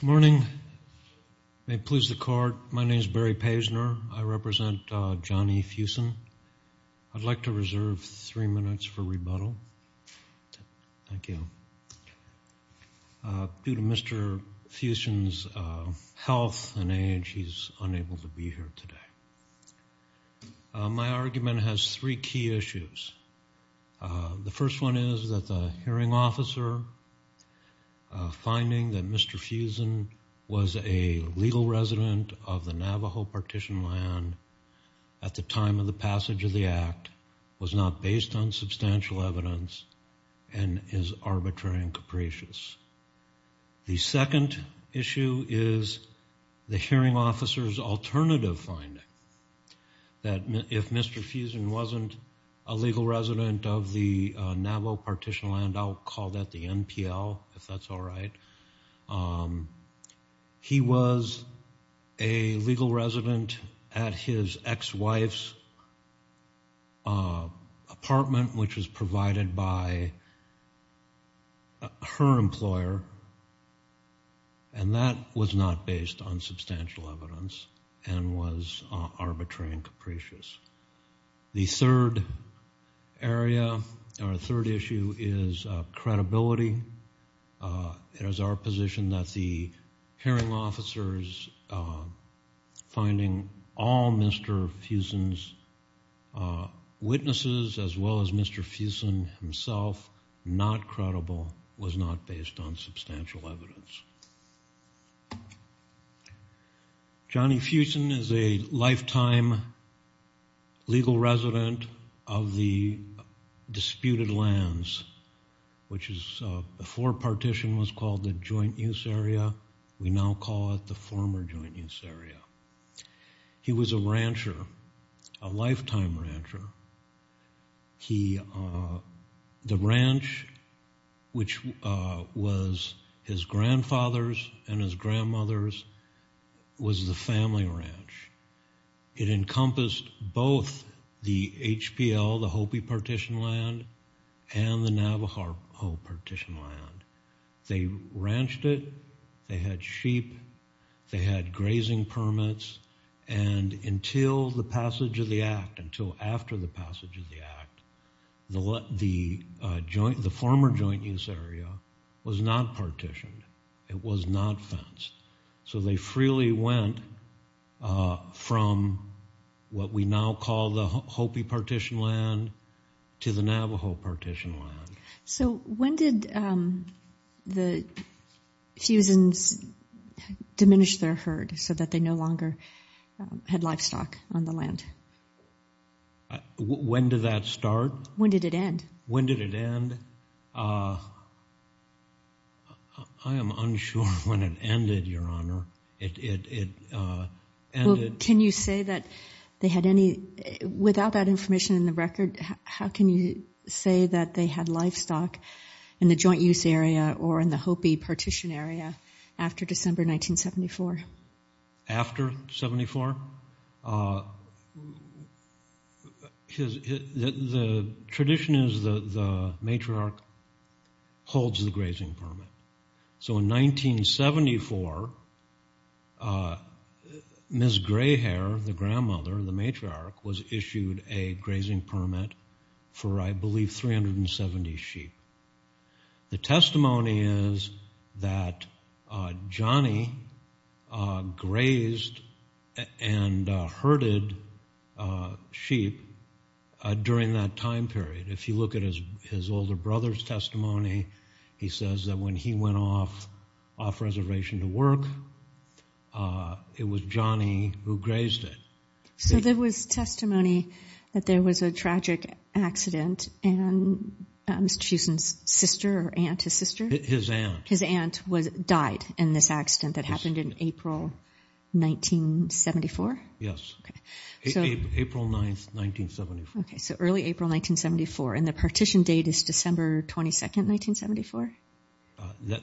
Good morning. May it please the court, my name is Barry Paisner. I represent Johnny Fuson. I'd like to reserve three minutes for rebuttal. Thank you. Due to Mr. Fuson's health and age, he's unable to be here today. My argument has three key issues. The first one is that the hearing officer finding that Mr. Fuson was a legal resident of the Navajo partition land at the time of the passage of the Act was not based on substantial evidence and is arbitrary and capricious. The second issue is the hearing officer's alternative finding, that if Mr. Fuson wasn't a legal resident of the Navajo partition land, I'll call that the NPL, if that's all right, He was a legal resident at his ex-wife's apartment, which was provided by her employer, and that was not based on substantial evidence and was arbitrary and capricious. The third area, or third issue, is credibility. It is our position that the hearing officer's finding all Mr. Fuson's witnesses, as well as Mr. Fuson himself, not credible, was not based on substantial evidence. Johnny Fuson is a lifetime legal resident of the disputed lands, which is, before partition was called the joint use area, we now call it the former joint use area. He was a rancher, a lifetime rancher. The ranch, which was his grandfather's and his grandmother's, was the family ranch. It encompassed both the HPL, the Hopi partition land, and the Navajo partition land. They ranched it, they had sheep, they had grazing permits, and until the passage of the Act, until after the passage of the Act, the former joint use area was not partitioned. It was not fenced. So they freely went from what we now call the Hopi partition land to the Navajo partition land. So when did the Fusons diminish their herd so that they no longer had livestock on the land? When did that start? When did it end? When did it end? I am unsure when it ended, Your Honor. Can you say that they had any, without that information in the record, how can you say that they had livestock in the joint use area or in the Hopi partition area after December 1974? After 74? The tradition is the matriarch holds the grazing permit. So in 1974, Ms. Grayhair, the grandmother, the matriarch, was issued a grazing permit for I believe 370 sheep. The testimony is that Johnny grazed and herded sheep during that time period. If you look at his older brother's testimony, he says that when he went off reservation to work, it was Johnny who grazed it. So there was testimony that there was a tragic accident and Mr. Fuson's sister or aunt, his sister? His aunt. His aunt died in this accident that happened in April 1974? Yes. April 9, 1974. Okay, so early April 1974, and the partition date is December 22, 1974?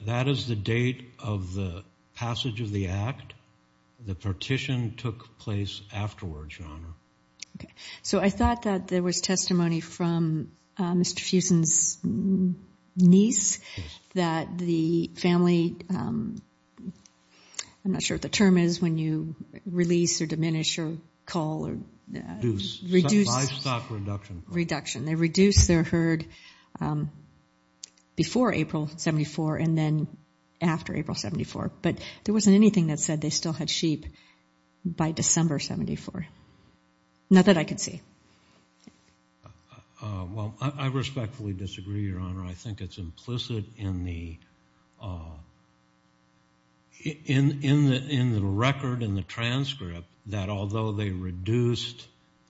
That is the date of the passage of the act. The partition took place afterwards, Your Honor. So I thought that there was testimony from Mr. Fuson's niece that the family, I'm not sure what the term is when you release or diminish or call or reduce. Livestock reduction. Reduction. They reduced their herd before April 1974 and then after April 1974, but there wasn't anything that said they still had sheep by December 1974. Not that I could see. Well, I respectfully disagree, Your Honor. I think it's implicit in the record, in the transcript, that although they reduced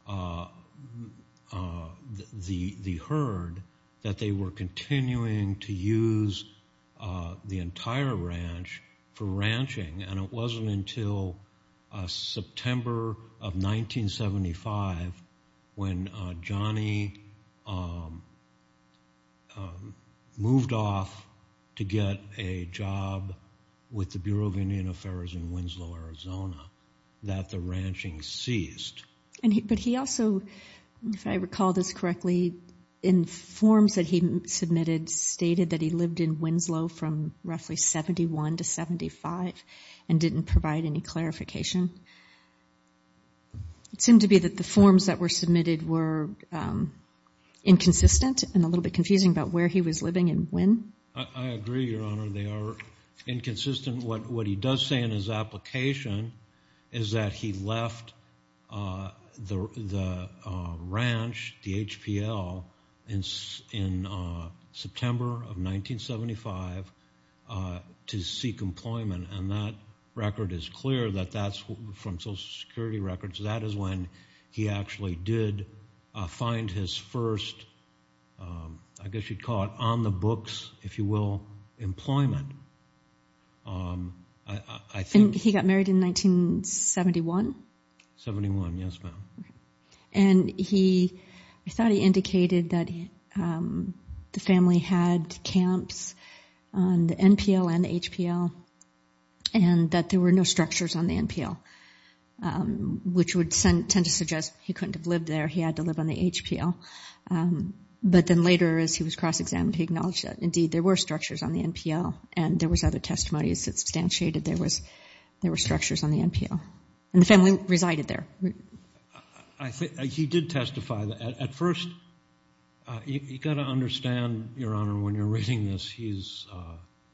the herd, that they were continuing to use the entire ranch for ranching, and it wasn't until September of 1975 when Johnny moved off to get a job with the Bureau of Indian Affairs in Winslow, Arizona, that the ranching ceased. But he also, if I recall this correctly, in forms that he submitted stated that he lived in Winslow from roughly 71 to 75 and didn't provide any clarification. It seemed to be that the forms that were submitted were inconsistent and a little bit confusing about where he was living and when. I agree, Your Honor. They are inconsistent. What he does say in his application is that he left the ranch, the HPL, in September of 1975 to seek employment, and that record is clear that that's from Social Security records. That is when he actually did find his first, I guess you'd call it, on the books, if you will, employment. He got married in 1971? Seventy-one, yes, ma'am. And I thought he indicated that the family had camps on the NPL and the HPL and that there were no structures on the NPL, which would tend to suggest he couldn't have lived there. He had to live on the HPL. But then later, as he was cross-examined, he acknowledged that, indeed, there were structures on the NPL and there was other testimony that substantiated there were structures on the NPL. And the family resided there. He did testify. At first, you've got to understand, Your Honor, when you're reading this, he's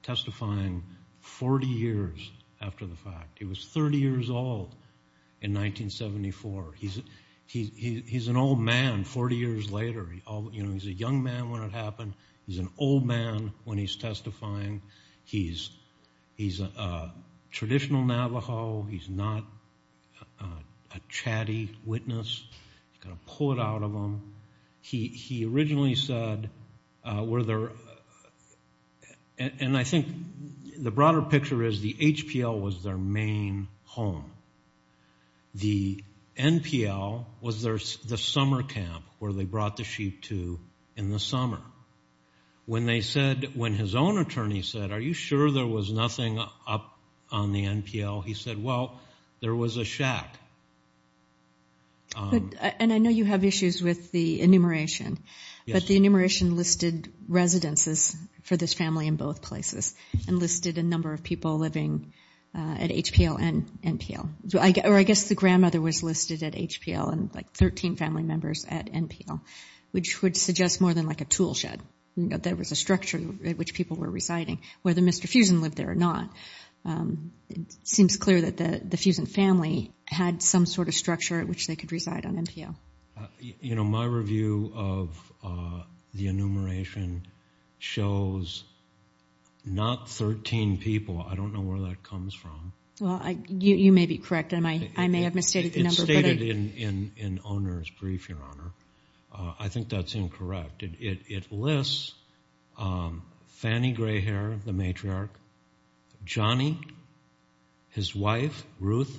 testifying 40 years after the fact. He was 30 years old in 1974. He's an old man 40 years later. He's a young man when it happened. He's an old man when he's testifying. He's a traditional Navajo. He's not a chatty witness. You've got to pull it out of him. He originally said, were there – and I think the broader picture is the HPL was their main home. The NPL was the summer camp where they brought the sheep to in the summer. When they said – when his own attorney said, are you sure there was nothing up on the NPL? He said, well, there was a shack. And I know you have issues with the enumeration. But the enumeration listed residences for this family in both places and listed a number of people living at HPL and NPL. Or I guess the grandmother was listed at HPL and like 13 family members at NPL, which would suggest more than like a tool shed. There was a structure at which people were residing, whether Mr. Fusen lived there or not. It seems clear that the Fusen family had some sort of structure at which they could reside on NPL. You know, my review of the enumeration shows not 13 people. I don't know where that comes from. Well, you may be correct. I may have misstated the number. It's stated in Oner's brief, Your Honor. I think that's incorrect. It lists Fanny Grayhair, the matriarch, Johnny, his wife, Ruth,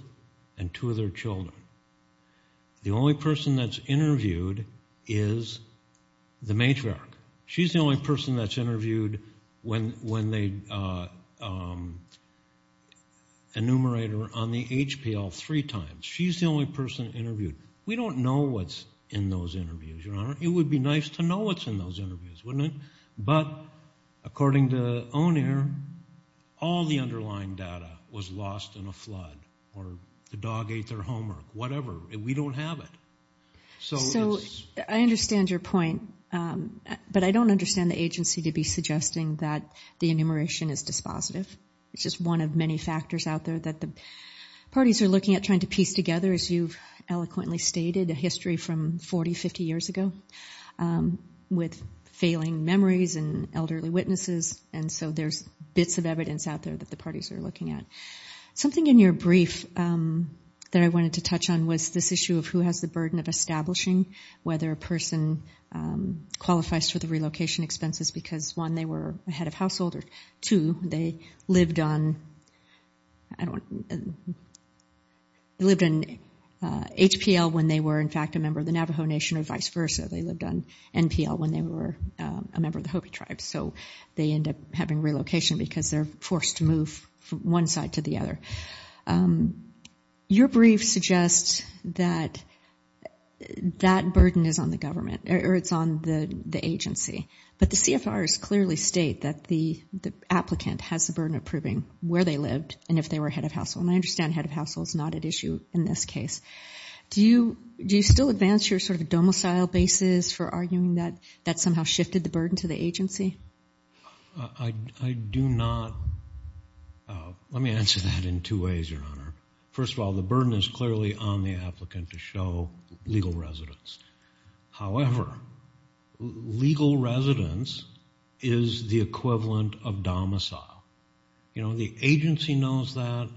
and two of their children. The only person that's interviewed is the matriarch. She's the only person that's interviewed when they enumerate her on the HPL three times. She's the only person interviewed. We don't know what's in those interviews, Your Honor. It would be nice to know what's in those interviews, wouldn't it? But according to Oner, all the underlying data was lost in a flood or the dog ate their homework, whatever, and we don't have it. So I understand your point, but I don't understand the agency to be suggesting that the enumeration is dispositive. It's just one of many factors out there that the parties are looking at trying to piece together, as you've eloquently stated, a history from 40, 50 years ago with failing memories and elderly witnesses, and so there's bits of evidence out there that the parties are looking at. Something in your brief that I wanted to touch on was this issue of who has the burden of establishing whether a person qualifies for the relocation expenses because, one, they were a head of household, or two, they lived on HPL when they were, in fact, a member of the Navajo Nation or vice versa. They lived on NPL when they were a member of the Hopi tribe, so they end up having relocation because they're forced to move from one side to the other. Your brief suggests that that burden is on the government, or it's on the agency, but the CFRs clearly state that the applicant has the burden of proving where they lived and if they were a head of household, and I understand head of household is not at issue in this case. Do you still advance your sort of domicile basis for arguing that that somehow shifted the burden to the agency? I do not. Let me answer that in two ways, Your Honor. First of all, the burden is clearly on the applicant to show legal residence. However, legal residence is the equivalent of domicile. You know, the agency knows that,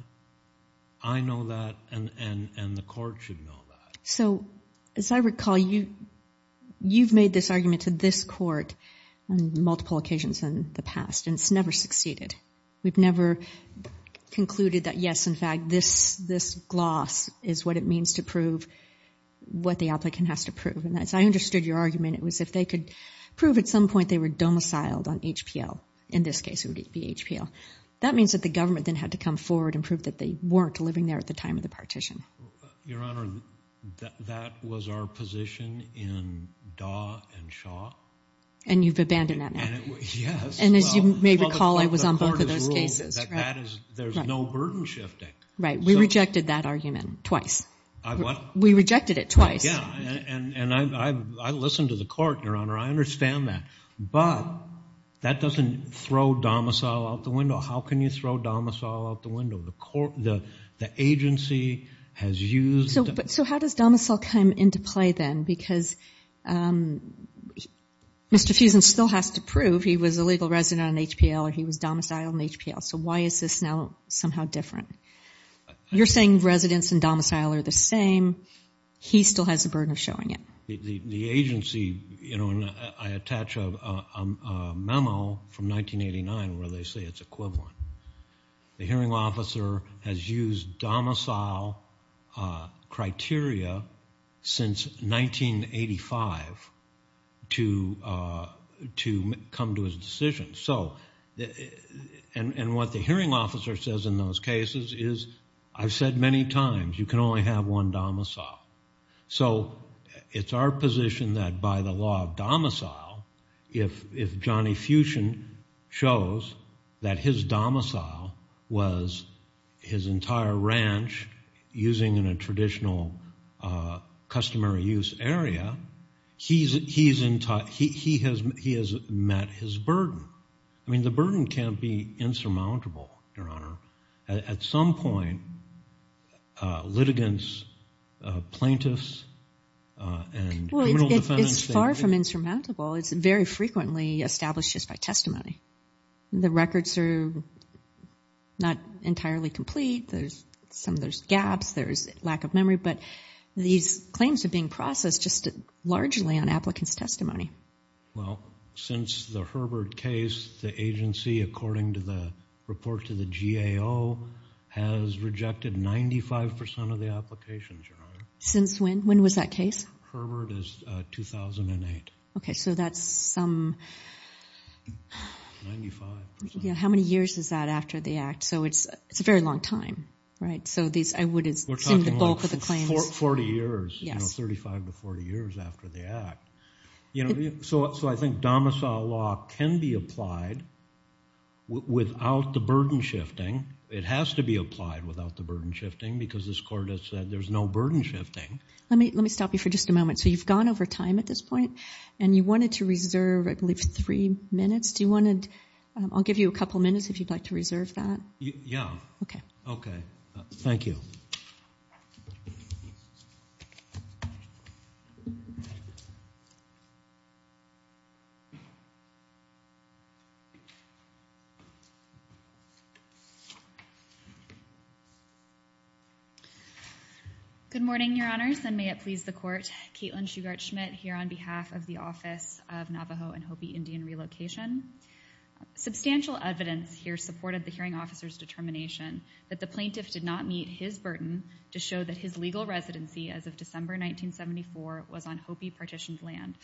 I know that, and the court should know that. So, as I recall, you've made this argument to this court on multiple occasions in the past, and it's never succeeded. We've never concluded that, yes, in fact, this gloss is what it means to prove what the applicant has to prove, and as I understood your argument, it was if they could prove at some point they were domiciled on HPL. In this case, it would be HPL. That means that the government then had to come forward and prove that they weren't living there at the time of the partition. Your Honor, that was our position in Daw and Shaw. And you've abandoned that now? Yes. And as you may recall, I was on both of those cases. The court has ruled that there's no burden shifting. Right. We rejected that argument twice. I what? We rejected it twice. Yeah, and I listened to the court, Your Honor. I understand that. But that doesn't throw domicile out the window. How can you throw domicile out the window? The agency has used it. So how does domicile come into play then? Because Mr. Fusen still has to prove he was a legal resident on HPL or he was domiciled on HPL. So why is this now somehow different? You're saying residents and domicile are the same. He still has the burden of showing it. The agency, you know, and I attach a memo from 1989 where they say it's equivalent. The hearing officer has used domicile criteria since 1985 to come to his decision. And what the hearing officer says in those cases is, I've said many times, you can only have one domicile. So it's our position that by the law of domicile, if Johnny Fusen shows that his domicile was his entire ranch using in a traditional customary use area, he has met his burden. I mean, the burden can't be insurmountable, Your Honor. At some point, litigants, plaintiffs and criminal defendants. It's far from insurmountable. It's very frequently established just by testimony. The records are not entirely complete. Some of there's gaps, there's lack of memory. But these claims are being processed just largely on applicants' testimony. Well, since the Herbert case, the agency, according to the report to the GAO, has rejected 95% of the applications, Your Honor. Since when? When was that case? Herbert is 2008. Okay, so that's some... 95%. Yeah, how many years is that after the act? So it's a very long time, right? So I would assume the bulk of the claims... We're talking like 40 years, 35 to 40 years after the act. So I think domicile law can be applied without the burden shifting. It has to be applied without the burden shifting because this court has said there's no burden shifting. Let me stop you for just a moment. So you've gone over time at this point, and you wanted to reserve, I believe, three minutes. I'll give you a couple minutes if you'd like to reserve that. Yeah. Okay. Okay, thank you. Good morning, Your Honors, and may it please the court. Caitlin Shugart Schmidt here on behalf of the Office of Navajo and Hopi Indian Relocation. Substantial evidence here supported the hearing officer's determination that the plaintiff did not meet his burden to show that his legal residency as of December 1974 was on Hopi partitioned land,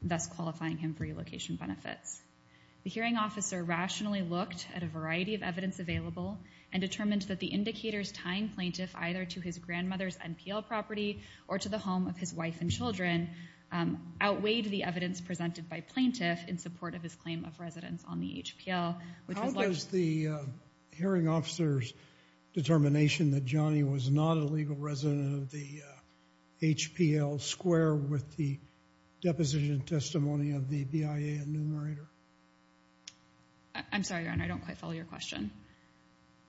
thus qualifying him for relocation benefits. The hearing officer rationally looked at a variety of evidence available and determined that the indicators tying plaintiff either to his grandmother's NPL property or to the home of his wife and children outweighed the evidence presented by plaintiff in support of his claim of residence on the HPL. How does the hearing officer's determination that Johnny was not a legal resident of the HPL square with the deposition testimony of the BIA enumerator? I'm sorry, Your Honor, I don't quite follow your question.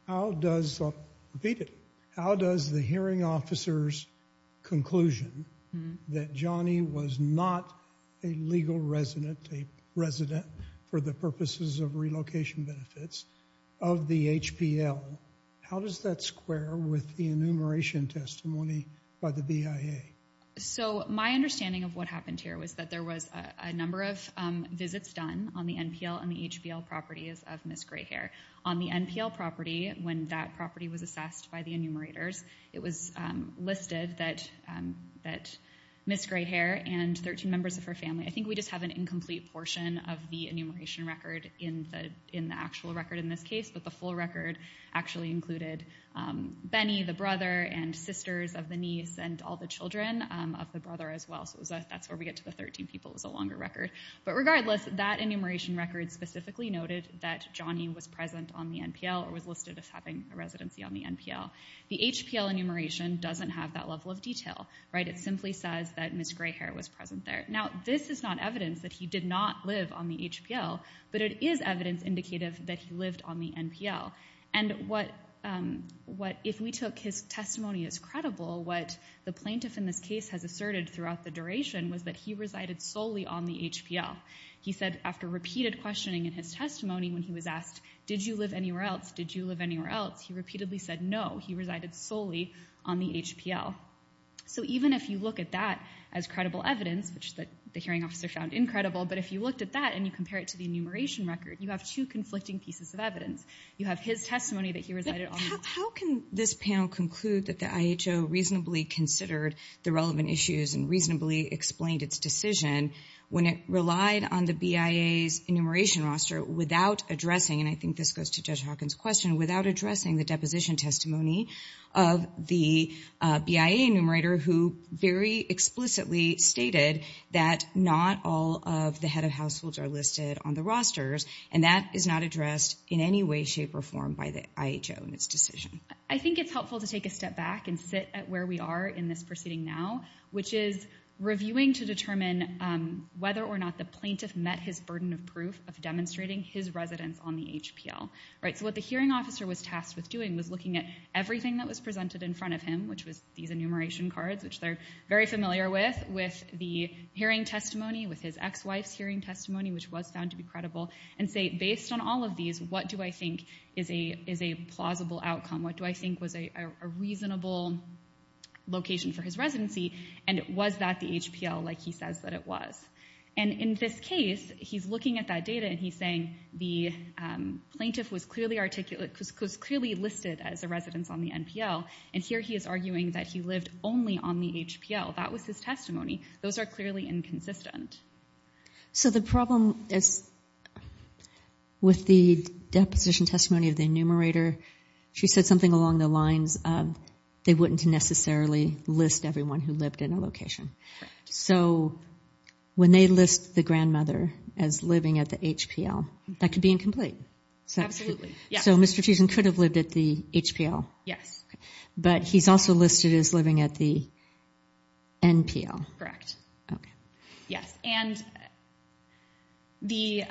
Repeat it. How does the hearing officer's conclusion that Johnny was not a legal resident, a resident for the purposes of relocation benefits of the HPL, how does that square with the enumeration testimony by the BIA? So my understanding of what happened here was that there was a number of visits done on the NPL and the HPL properties of Ms. Grayhair. On the NPL property, when that property was assessed by the enumerators, it was listed that Ms. Grayhair and 13 members of her family, I think we just have an incomplete portion of the enumeration record in the actual record in this case, but the full record actually included Benny, the brother, and sisters of the niece, and all the children of the brother as well, so that's where we get to the 13 people. It was a longer record. But regardless, that enumeration record specifically noted that Johnny was present on the NPL or was listed as having a residency on the NPL. The HPL enumeration doesn't have that level of detail. It simply says that Ms. Grayhair was present there. Now, this is not evidence that he did not live on the HPL, but it is evidence indicative that he lived on the NPL, and if we took his testimony as credible, what the plaintiff in this case has asserted throughout the duration was that he resided solely on the HPL. He said after repeated questioning in his testimony when he was asked, did you live anywhere else, did you live anywhere else, he repeatedly said no, he resided solely on the HPL. So even if you look at that as credible evidence, which the hearing officer found incredible, but if you looked at that and you compare it to the enumeration record, you have two conflicting pieces of evidence. You have his testimony that he resided on the NPL. How can this panel conclude that the IHO reasonably considered the relevant issues and reasonably explained its decision when it relied on the BIA's enumeration roster without addressing, and I think this goes to Judge Hawkins' question, without addressing the deposition testimony of the BIA enumerator who very explicitly stated that not all of the head of households are listed on the rosters, and that is not addressed in any way, shape, or form by the IHO in its decision. I think it's helpful to take a step back and sit at where we are in this proceeding now, which is reviewing to determine whether or not the plaintiff met his burden of proof of demonstrating his residence on the HPL. So what the hearing officer was tasked with doing was looking at everything that was presented in front of him, which was these enumeration cards, which they're very familiar with, with the hearing testimony, with his ex-wife's hearing testimony, which was found to be credible, and say, based on all of these, what do I think is a plausible outcome? What do I think was a reasonable location for his residency, and was that the HPL like he says that it was? And in this case, he's looking at that data, and he's saying, the plaintiff was clearly listed as a residence on the NPL, and here he is arguing that he lived only on the HPL. That was his testimony. Those are clearly inconsistent. So the problem is with the deposition testimony of the enumerator, she said something along the lines of they wouldn't necessarily list everyone who lived in a location. So when they list the grandmother as living at the HPL, that could be incomplete. Absolutely, yes. So Mr. Cheeson could have lived at the HPL. Yes. Okay. But he's also listed as living at the NPL. Correct. Okay. Yes. And the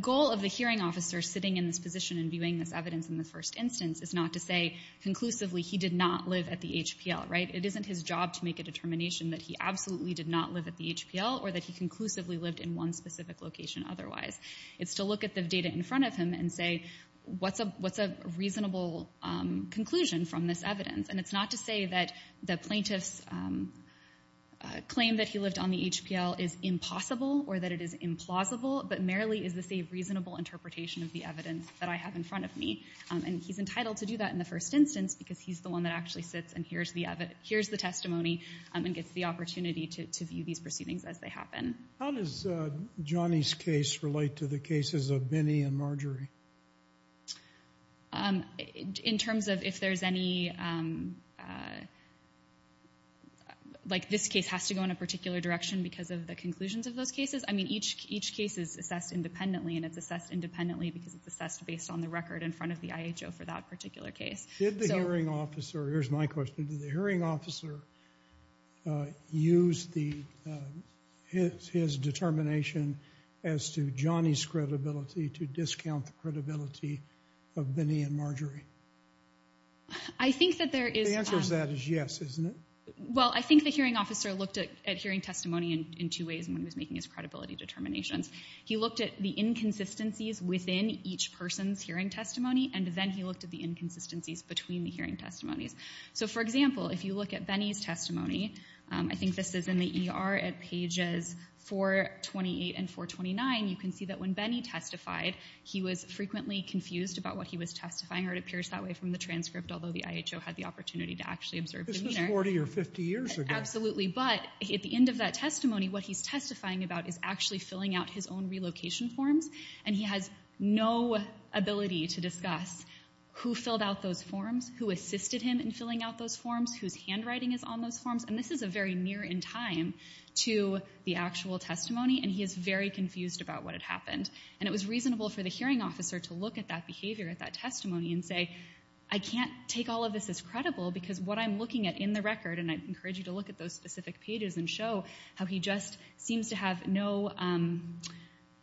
goal of the hearing officer sitting in this position and viewing this evidence in the first instance is not to say conclusively he did not live at the HPL, right? It isn't his job to make a determination that he absolutely did not live at the HPL or that he conclusively lived in one specific location otherwise. It's to look at the data in front of him and say, what's a reasonable conclusion from this evidence? And it's not to say that the plaintiff's claim that he lived on the HPL is impossible or that it is implausible, but merely is this a reasonable interpretation of the evidence that I have in front of me. And he's entitled to do that in the first instance because he's the one that actually sits and hears the testimony and gets the opportunity to view these proceedings as they happen. How does Johnny's case relate to the cases of Binney and Marjorie? In terms of if there's any, like this case has to go in a particular direction because of the conclusions of those cases. I mean, each case is assessed independently, and it's assessed independently because it's assessed based on the record in front of the IHO for that particular case. Did the hearing officer, here's my question, did the hearing officer use his determination as to Johnny's credibility to discount the credibility of Binney and Marjorie? The answer to that is yes, isn't it? Well, I think the hearing officer looked at hearing testimony in two ways when he was making his credibility determinations. He looked at the inconsistencies within each person's hearing testimony, and then he looked at the inconsistencies between the hearing testimonies. So, for example, if you look at Binney's testimony, I think this is in the ER at pages 428 and 429, you can see that when Binney testified, he was frequently confused about what he was testifying, or it appears that way from the transcript, although the IHO had the opportunity to actually observe him there. This was 40 or 50 years ago. Absolutely, but at the end of that testimony, what he's testifying about is actually filling out his own relocation forms, and he has no ability to discuss who filled out those forms, who assisted him in filling out those forms, whose handwriting is on those forms, and this is very near in time to the actual testimony, and he is very confused about what had happened. And it was reasonable for the hearing officer to look at that behavior, at that testimony, and say, I can't take all of this as credible because what I'm looking at in the record, and I encourage you to look at those specific pages and show how he just seems to have no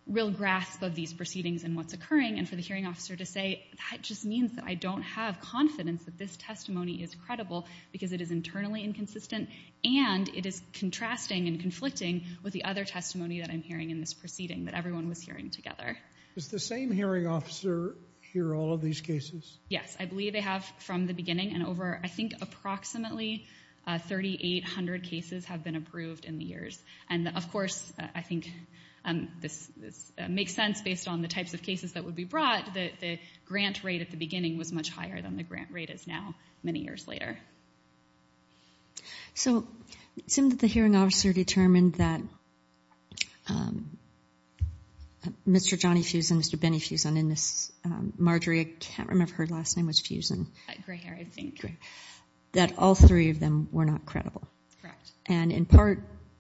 real grasp of these proceedings and what's occurring, and for the hearing officer to say, that just means that I don't have confidence that this testimony is credible because it is internally inconsistent and it is contrasting and conflicting with the other testimony that I'm hearing in this proceeding that everyone was hearing together. Does the same hearing officer hear all of these cases? Yes, I believe they have from the beginning, and over, I think, approximately 3,800 cases have been approved in the years. And, of course, I think this makes sense based on the types of cases that would be brought. But the grant rate at the beginning was much higher than the grant rate is now, many years later. So it seemed that the hearing officer determined that Mr. Johnny Fuson, Mr. Benny Fuson, and Ms. Marjorie, I can't remember her last name, was Fuson. Gray hair, I think. That all three of them were not credible. Correct. And, in part,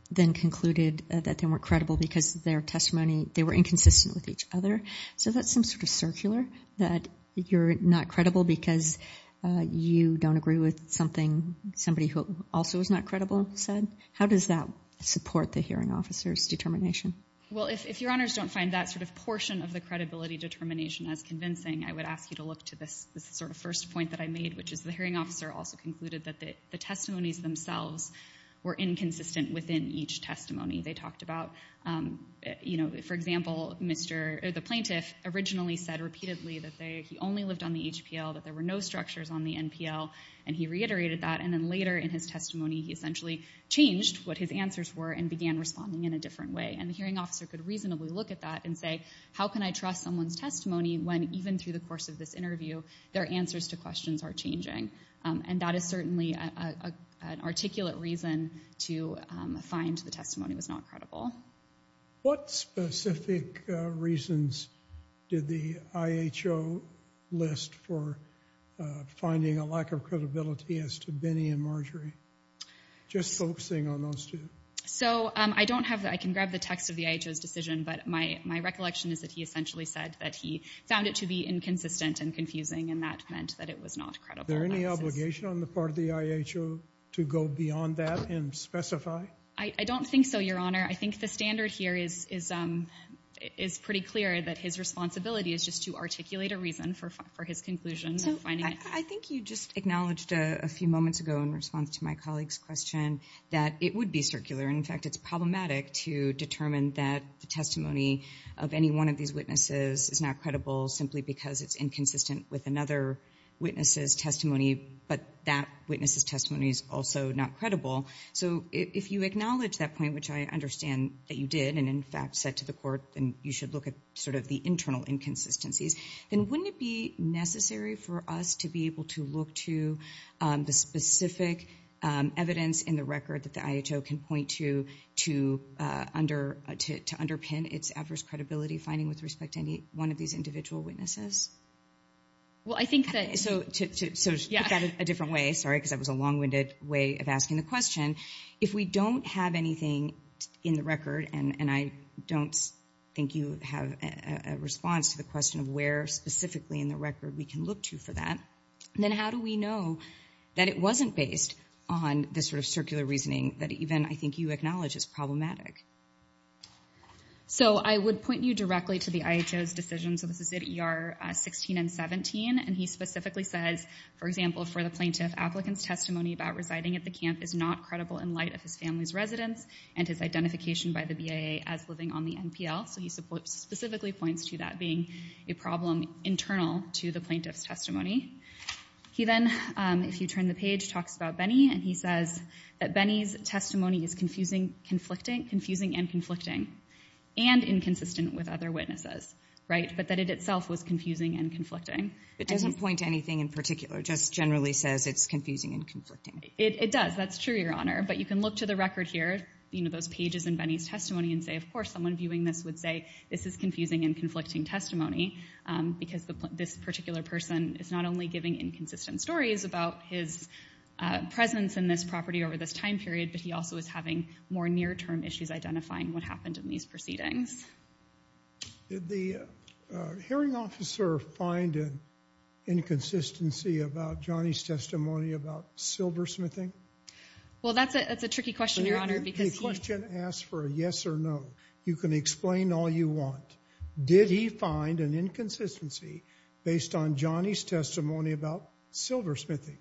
then concluded that they weren't credible because their testimony, they were inconsistent with each other. So that's some sort of circular, that you're not credible because you don't agree with something somebody who also is not credible said? How does that support the hearing officer's determination? Well, if Your Honors don't find that sort of portion of the credibility determination as convincing, I would ask you to look to this sort of first point that I made, which is the hearing officer also concluded that the testimonies themselves were inconsistent within each testimony. They talked about, for example, the plaintiff originally said repeatedly that he only lived on the HPL, that there were no structures on the NPL, and he reiterated that, and then later in his testimony, he essentially changed what his answers were and began responding in a different way. And the hearing officer could reasonably look at that and say, how can I trust someone's testimony when, even through the course of this interview, their answers to questions are changing? And that is certainly an articulate reason to find the testimony was not credible. What specific reasons did the IHO list for finding a lack of credibility as to Benny and Marjorie? Just focusing on those two. So I can grab the text of the IHO's decision, but my recollection is that he essentially said that he found it to be inconsistent and confusing, and that meant that it was not credible. Is there any obligation on the part of the IHO to go beyond that and specify? I don't think so, Your Honor. I think the standard here is pretty clear that his responsibility is just to articulate a reason for his conclusion. I think you just acknowledged a few moments ago in response to my colleague's question that it would be circular. In fact, it's problematic to determine that the testimony of any one of these witnesses is not credible simply because it's inconsistent with another witness's testimony, but that witness's testimony is also not credible. So if you acknowledge that point, which I understand that you did and, in fact, said to the court, then you should look at sort of the internal inconsistencies. Then wouldn't it be necessary for us to be able to look to the specific evidence in the record that the IHO can point to to underpin its adverse credibility finding with respect to any one of these individual witnesses? Well, I think that... So to put that a different way, sorry, because that was a long-winded way of asking the question, if we don't have anything in the record, and I don't think you have a response to the question of where specifically in the record we can look to for that, then how do we know that it wasn't based on this sort of circular reasoning that even I think you acknowledge is problematic? So I would point you directly to the IHO's decision, so this is at ER 16 and 17, and he specifically says, for example, for the plaintiff, applicant's testimony about residing at the camp is not credible in light of his family's residence and his identification by the BIA as living on the NPL. So he specifically points to that being a problem internal to the plaintiff's testimony. He then, if you turn the page, talks about Benny, and he says that Benny's testimony is confusing and conflicting and inconsistent with other witnesses, right, but that it itself was confusing and conflicting. It doesn't point to anything in particular, just generally says it's confusing and conflicting. It does, that's true, Your Honor, but you can look to the record here, you know, those pages in Benny's testimony and say, of course, someone viewing this would say, this is confusing and conflicting testimony because this particular person is not only giving inconsistent stories about his presence in this property over this time period, but he also is having more near-term issues identifying what happened in these proceedings. Did the hearing officer find an inconsistency about Johnny's testimony about silversmithing? Well, that's a tricky question, Your Honor. The question asks for a yes or no. You can explain all you want. Did he find an inconsistency based on Johnny's testimony about silversmithing?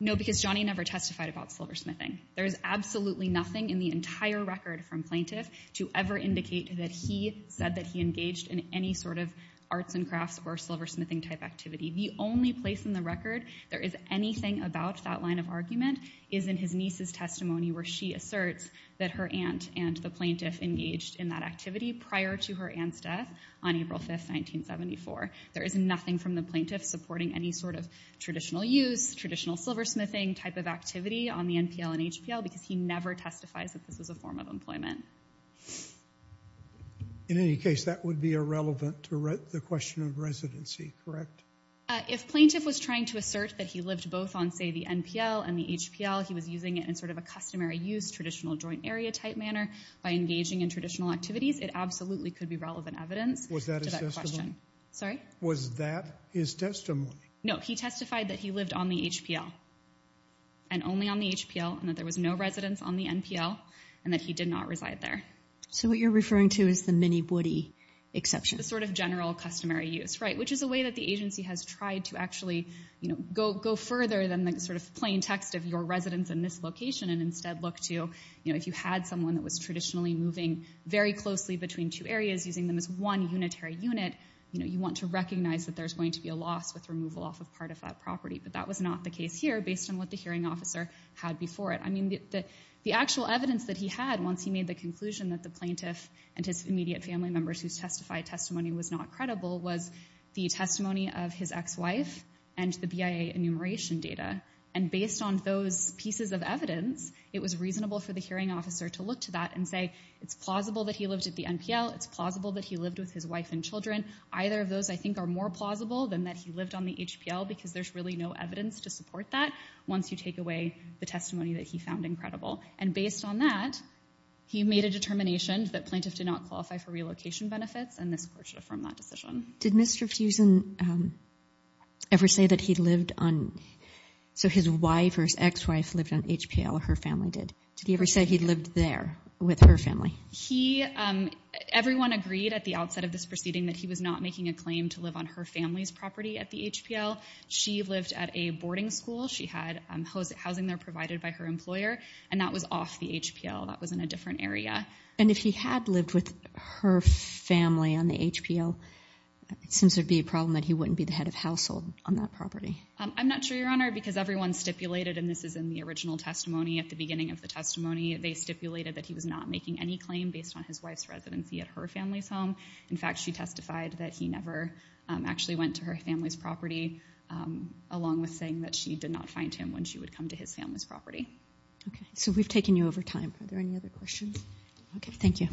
No, because Johnny never testified about silversmithing. There is absolutely nothing in the entire record from plaintiff to ever indicate that he said that he engaged in any sort of arts and crafts or silversmithing-type activity. The only place in the record there is anything about that line of argument is in his niece's testimony where she asserts that her aunt and the plaintiff engaged in that activity prior to her aunt's death on April 5, 1974. There is nothing from the plaintiff supporting any sort of traditional use, traditional silversmithing-type of activity on the NPL and HPL because he never testifies that this was a form of employment. In any case, that would be irrelevant to the question of residency, correct? If plaintiff was trying to assert that he lived both on, say, the NPL and the HPL, he was using it in sort of a customary use, traditional joint area-type manner by engaging in traditional activities, it absolutely could be relevant evidence to that question. Was that his testimony? Sorry? Was that his testimony? No, he testified that he lived on the HPL and only on the HPL and that there was no residence on the NPL and that he did not reside there. So what you're referring to is the mini-woody exception? The sort of general customary use, right, which is a way that the agency has tried to actually go further than the sort of plain text of your residence in this location and instead look to if you had someone that was traditionally moving very closely between two areas, using them as one unitary unit, you want to recognize that there's going to be a loss with removal off of part of that property, but that was not the case here based on what the hearing officer had before it. I mean, the actual evidence that he had once he made the conclusion that the plaintiff and his immediate family members whose testified testimony was not credible was the testimony of his ex-wife and the BIA enumeration data. And based on those pieces of evidence, it was reasonable for the hearing officer to look to that and say it's plausible that he lived at the NPL, it's plausible that he lived with his wife and children. Either of those, I think, are more plausible than that he lived on the HPL because there's really no evidence to support that once you take away the testimony that he found incredible. And based on that, he made a determination that plaintiff did not qualify for relocation benefits and this court should affirm that decision. Did Mr. Fusen ever say that he lived on, so his wife or his ex-wife lived on HPL or her family did? Did he ever say he lived there with her family? He, everyone agreed at the outset of this proceeding that he was not making a claim to live on her family's property at the HPL. She lived at a boarding school. She had housing there provided by her employer and that was off the HPL. That was in a different area. And if he had lived with her family on the HPL, it seems there'd be a problem that he wouldn't be the head of household on that property. I'm not sure, Your Honor, because everyone stipulated, and this is in the original testimony at the beginning of the testimony, they stipulated that he was not making any claim based on his wife's residency at her family's home. In fact, she testified that he never actually went to her family's property along with saying that she did not find him when she would come to his family's property. Okay, so we've taken you over time. Are there any other questions? Okay, thank you.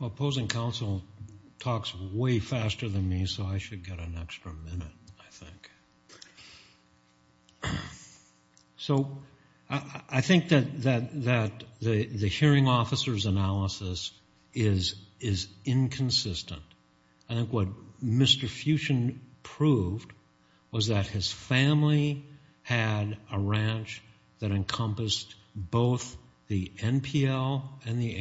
Well, opposing counsel talks way faster than me, so I should get an extra minute, I think. So I think that the hearing officer's analysis is inconsistent. I think what Mr. Fuchin proved was that his family had a ranch that encompassed both the NPL and the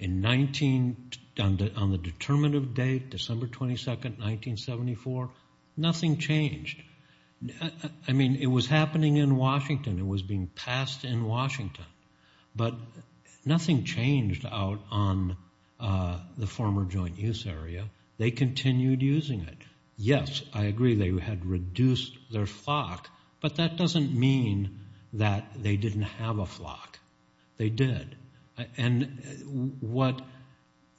HPL. On the determinative date, December 22, 1974, nothing changed. I mean, it was happening in Washington. It was being passed in Washington. But nothing changed out on the former joint use area. They continued using it. Yes, I agree they had reduced their flock, but that doesn't mean that they didn't have a flock. They did. And what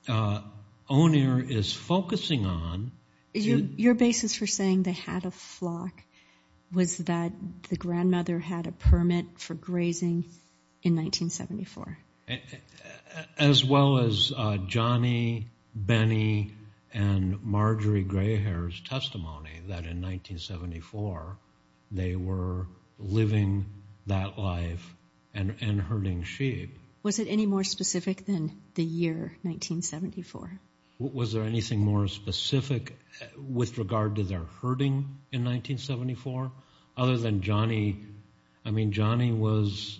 O'Neill is focusing on- Your basis for saying they had a flock was that the grandmother had a permit for grazing in 1974. As well as Johnny, Benny, and Marjorie Grayhair's testimony that in 1974, they were living that life and herding sheep. Was it any more specific than the year 1974? Was there anything more specific with regard to their herding in 1974 other than Johnny? I mean, Johnny was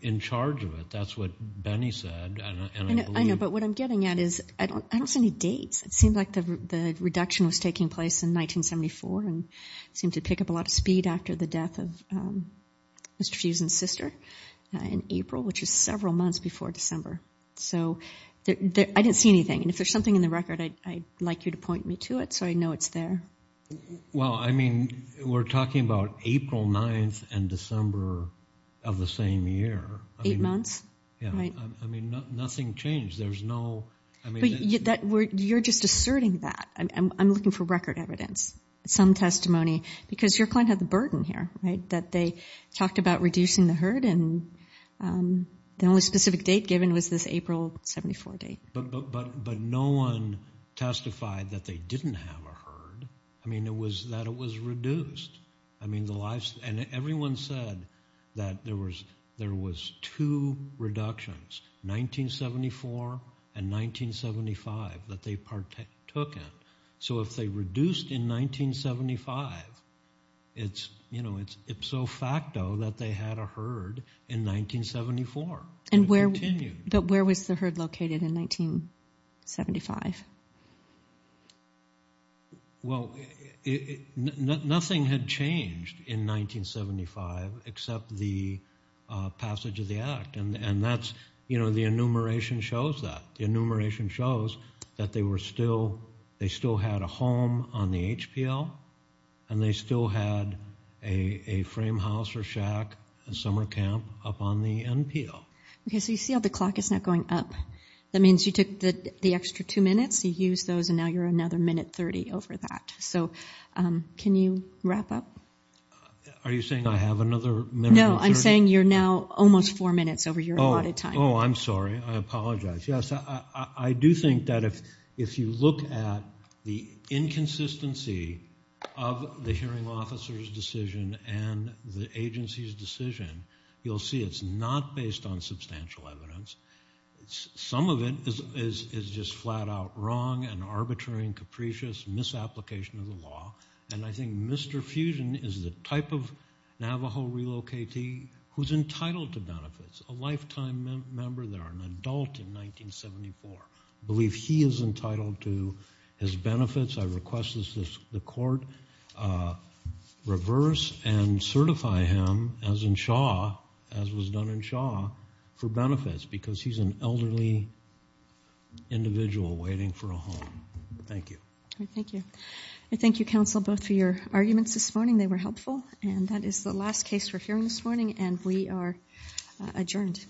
in charge of it. That's what Benny said. I know, but what I'm getting at is I don't see any dates. It seemed like the reduction was taking place in 1974 and it seemed to pick up a lot of speed after the death of Mr. Fuchin's sister in April, which is several months before December. So I didn't see anything. And if there's something in the record, I'd like you to point me to it so I know it's there. Well, I mean, we're talking about April 9th and December of the same year. Eight months. I mean, nothing changed. There's no- You're just asserting that. I'm looking for record evidence, some testimony, because your client had the burden here, right, that they talked about reducing the herd and the only specific date given was this April 74 date. But no one testified that they didn't have a herd. I mean, it was that it was reduced. And everyone said that there was two reductions, 1974 and 1975, that they took in. So if they reduced in 1975, it's, you know, it's ipso facto that they had a herd in 1974. But where was the herd located in 1975? Well, nothing had changed in 1975 except the passage of the Act. And that's, you know, the enumeration shows that. The enumeration shows that they were still-they still had a home on the HPL and they still had a frame house or shack, a summer camp up on the NPL. Okay, so you see how the clock is not going up? That means you took the extra two minutes, you used those, and now you're another minute 30 over that. So can you wrap up? Are you saying I have another minute? No, I'm saying you're now almost four minutes over your allotted time. Oh, I'm sorry. I apologize. Yes, I do think that if you look at the inconsistency of the hearing officer's decision and the agency's decision, you'll see it's not based on substantial evidence. Some of it is just flat-out wrong and arbitrary and capricious, misapplication of the law. And I think Mr. Fusion is the type of Navajo relocatee who's entitled to benefits, a lifetime member there, an adult in 1974. I believe he is entitled to his benefits. I request that the court reverse and certify him as in Shaw, as was done in Shaw, for benefits because he's an elderly individual waiting for a home. Thank you. Thank you. Thank you, counsel, both for your arguments this morning. They were helpful. And that is the last case for hearing this morning, and we are adjourned.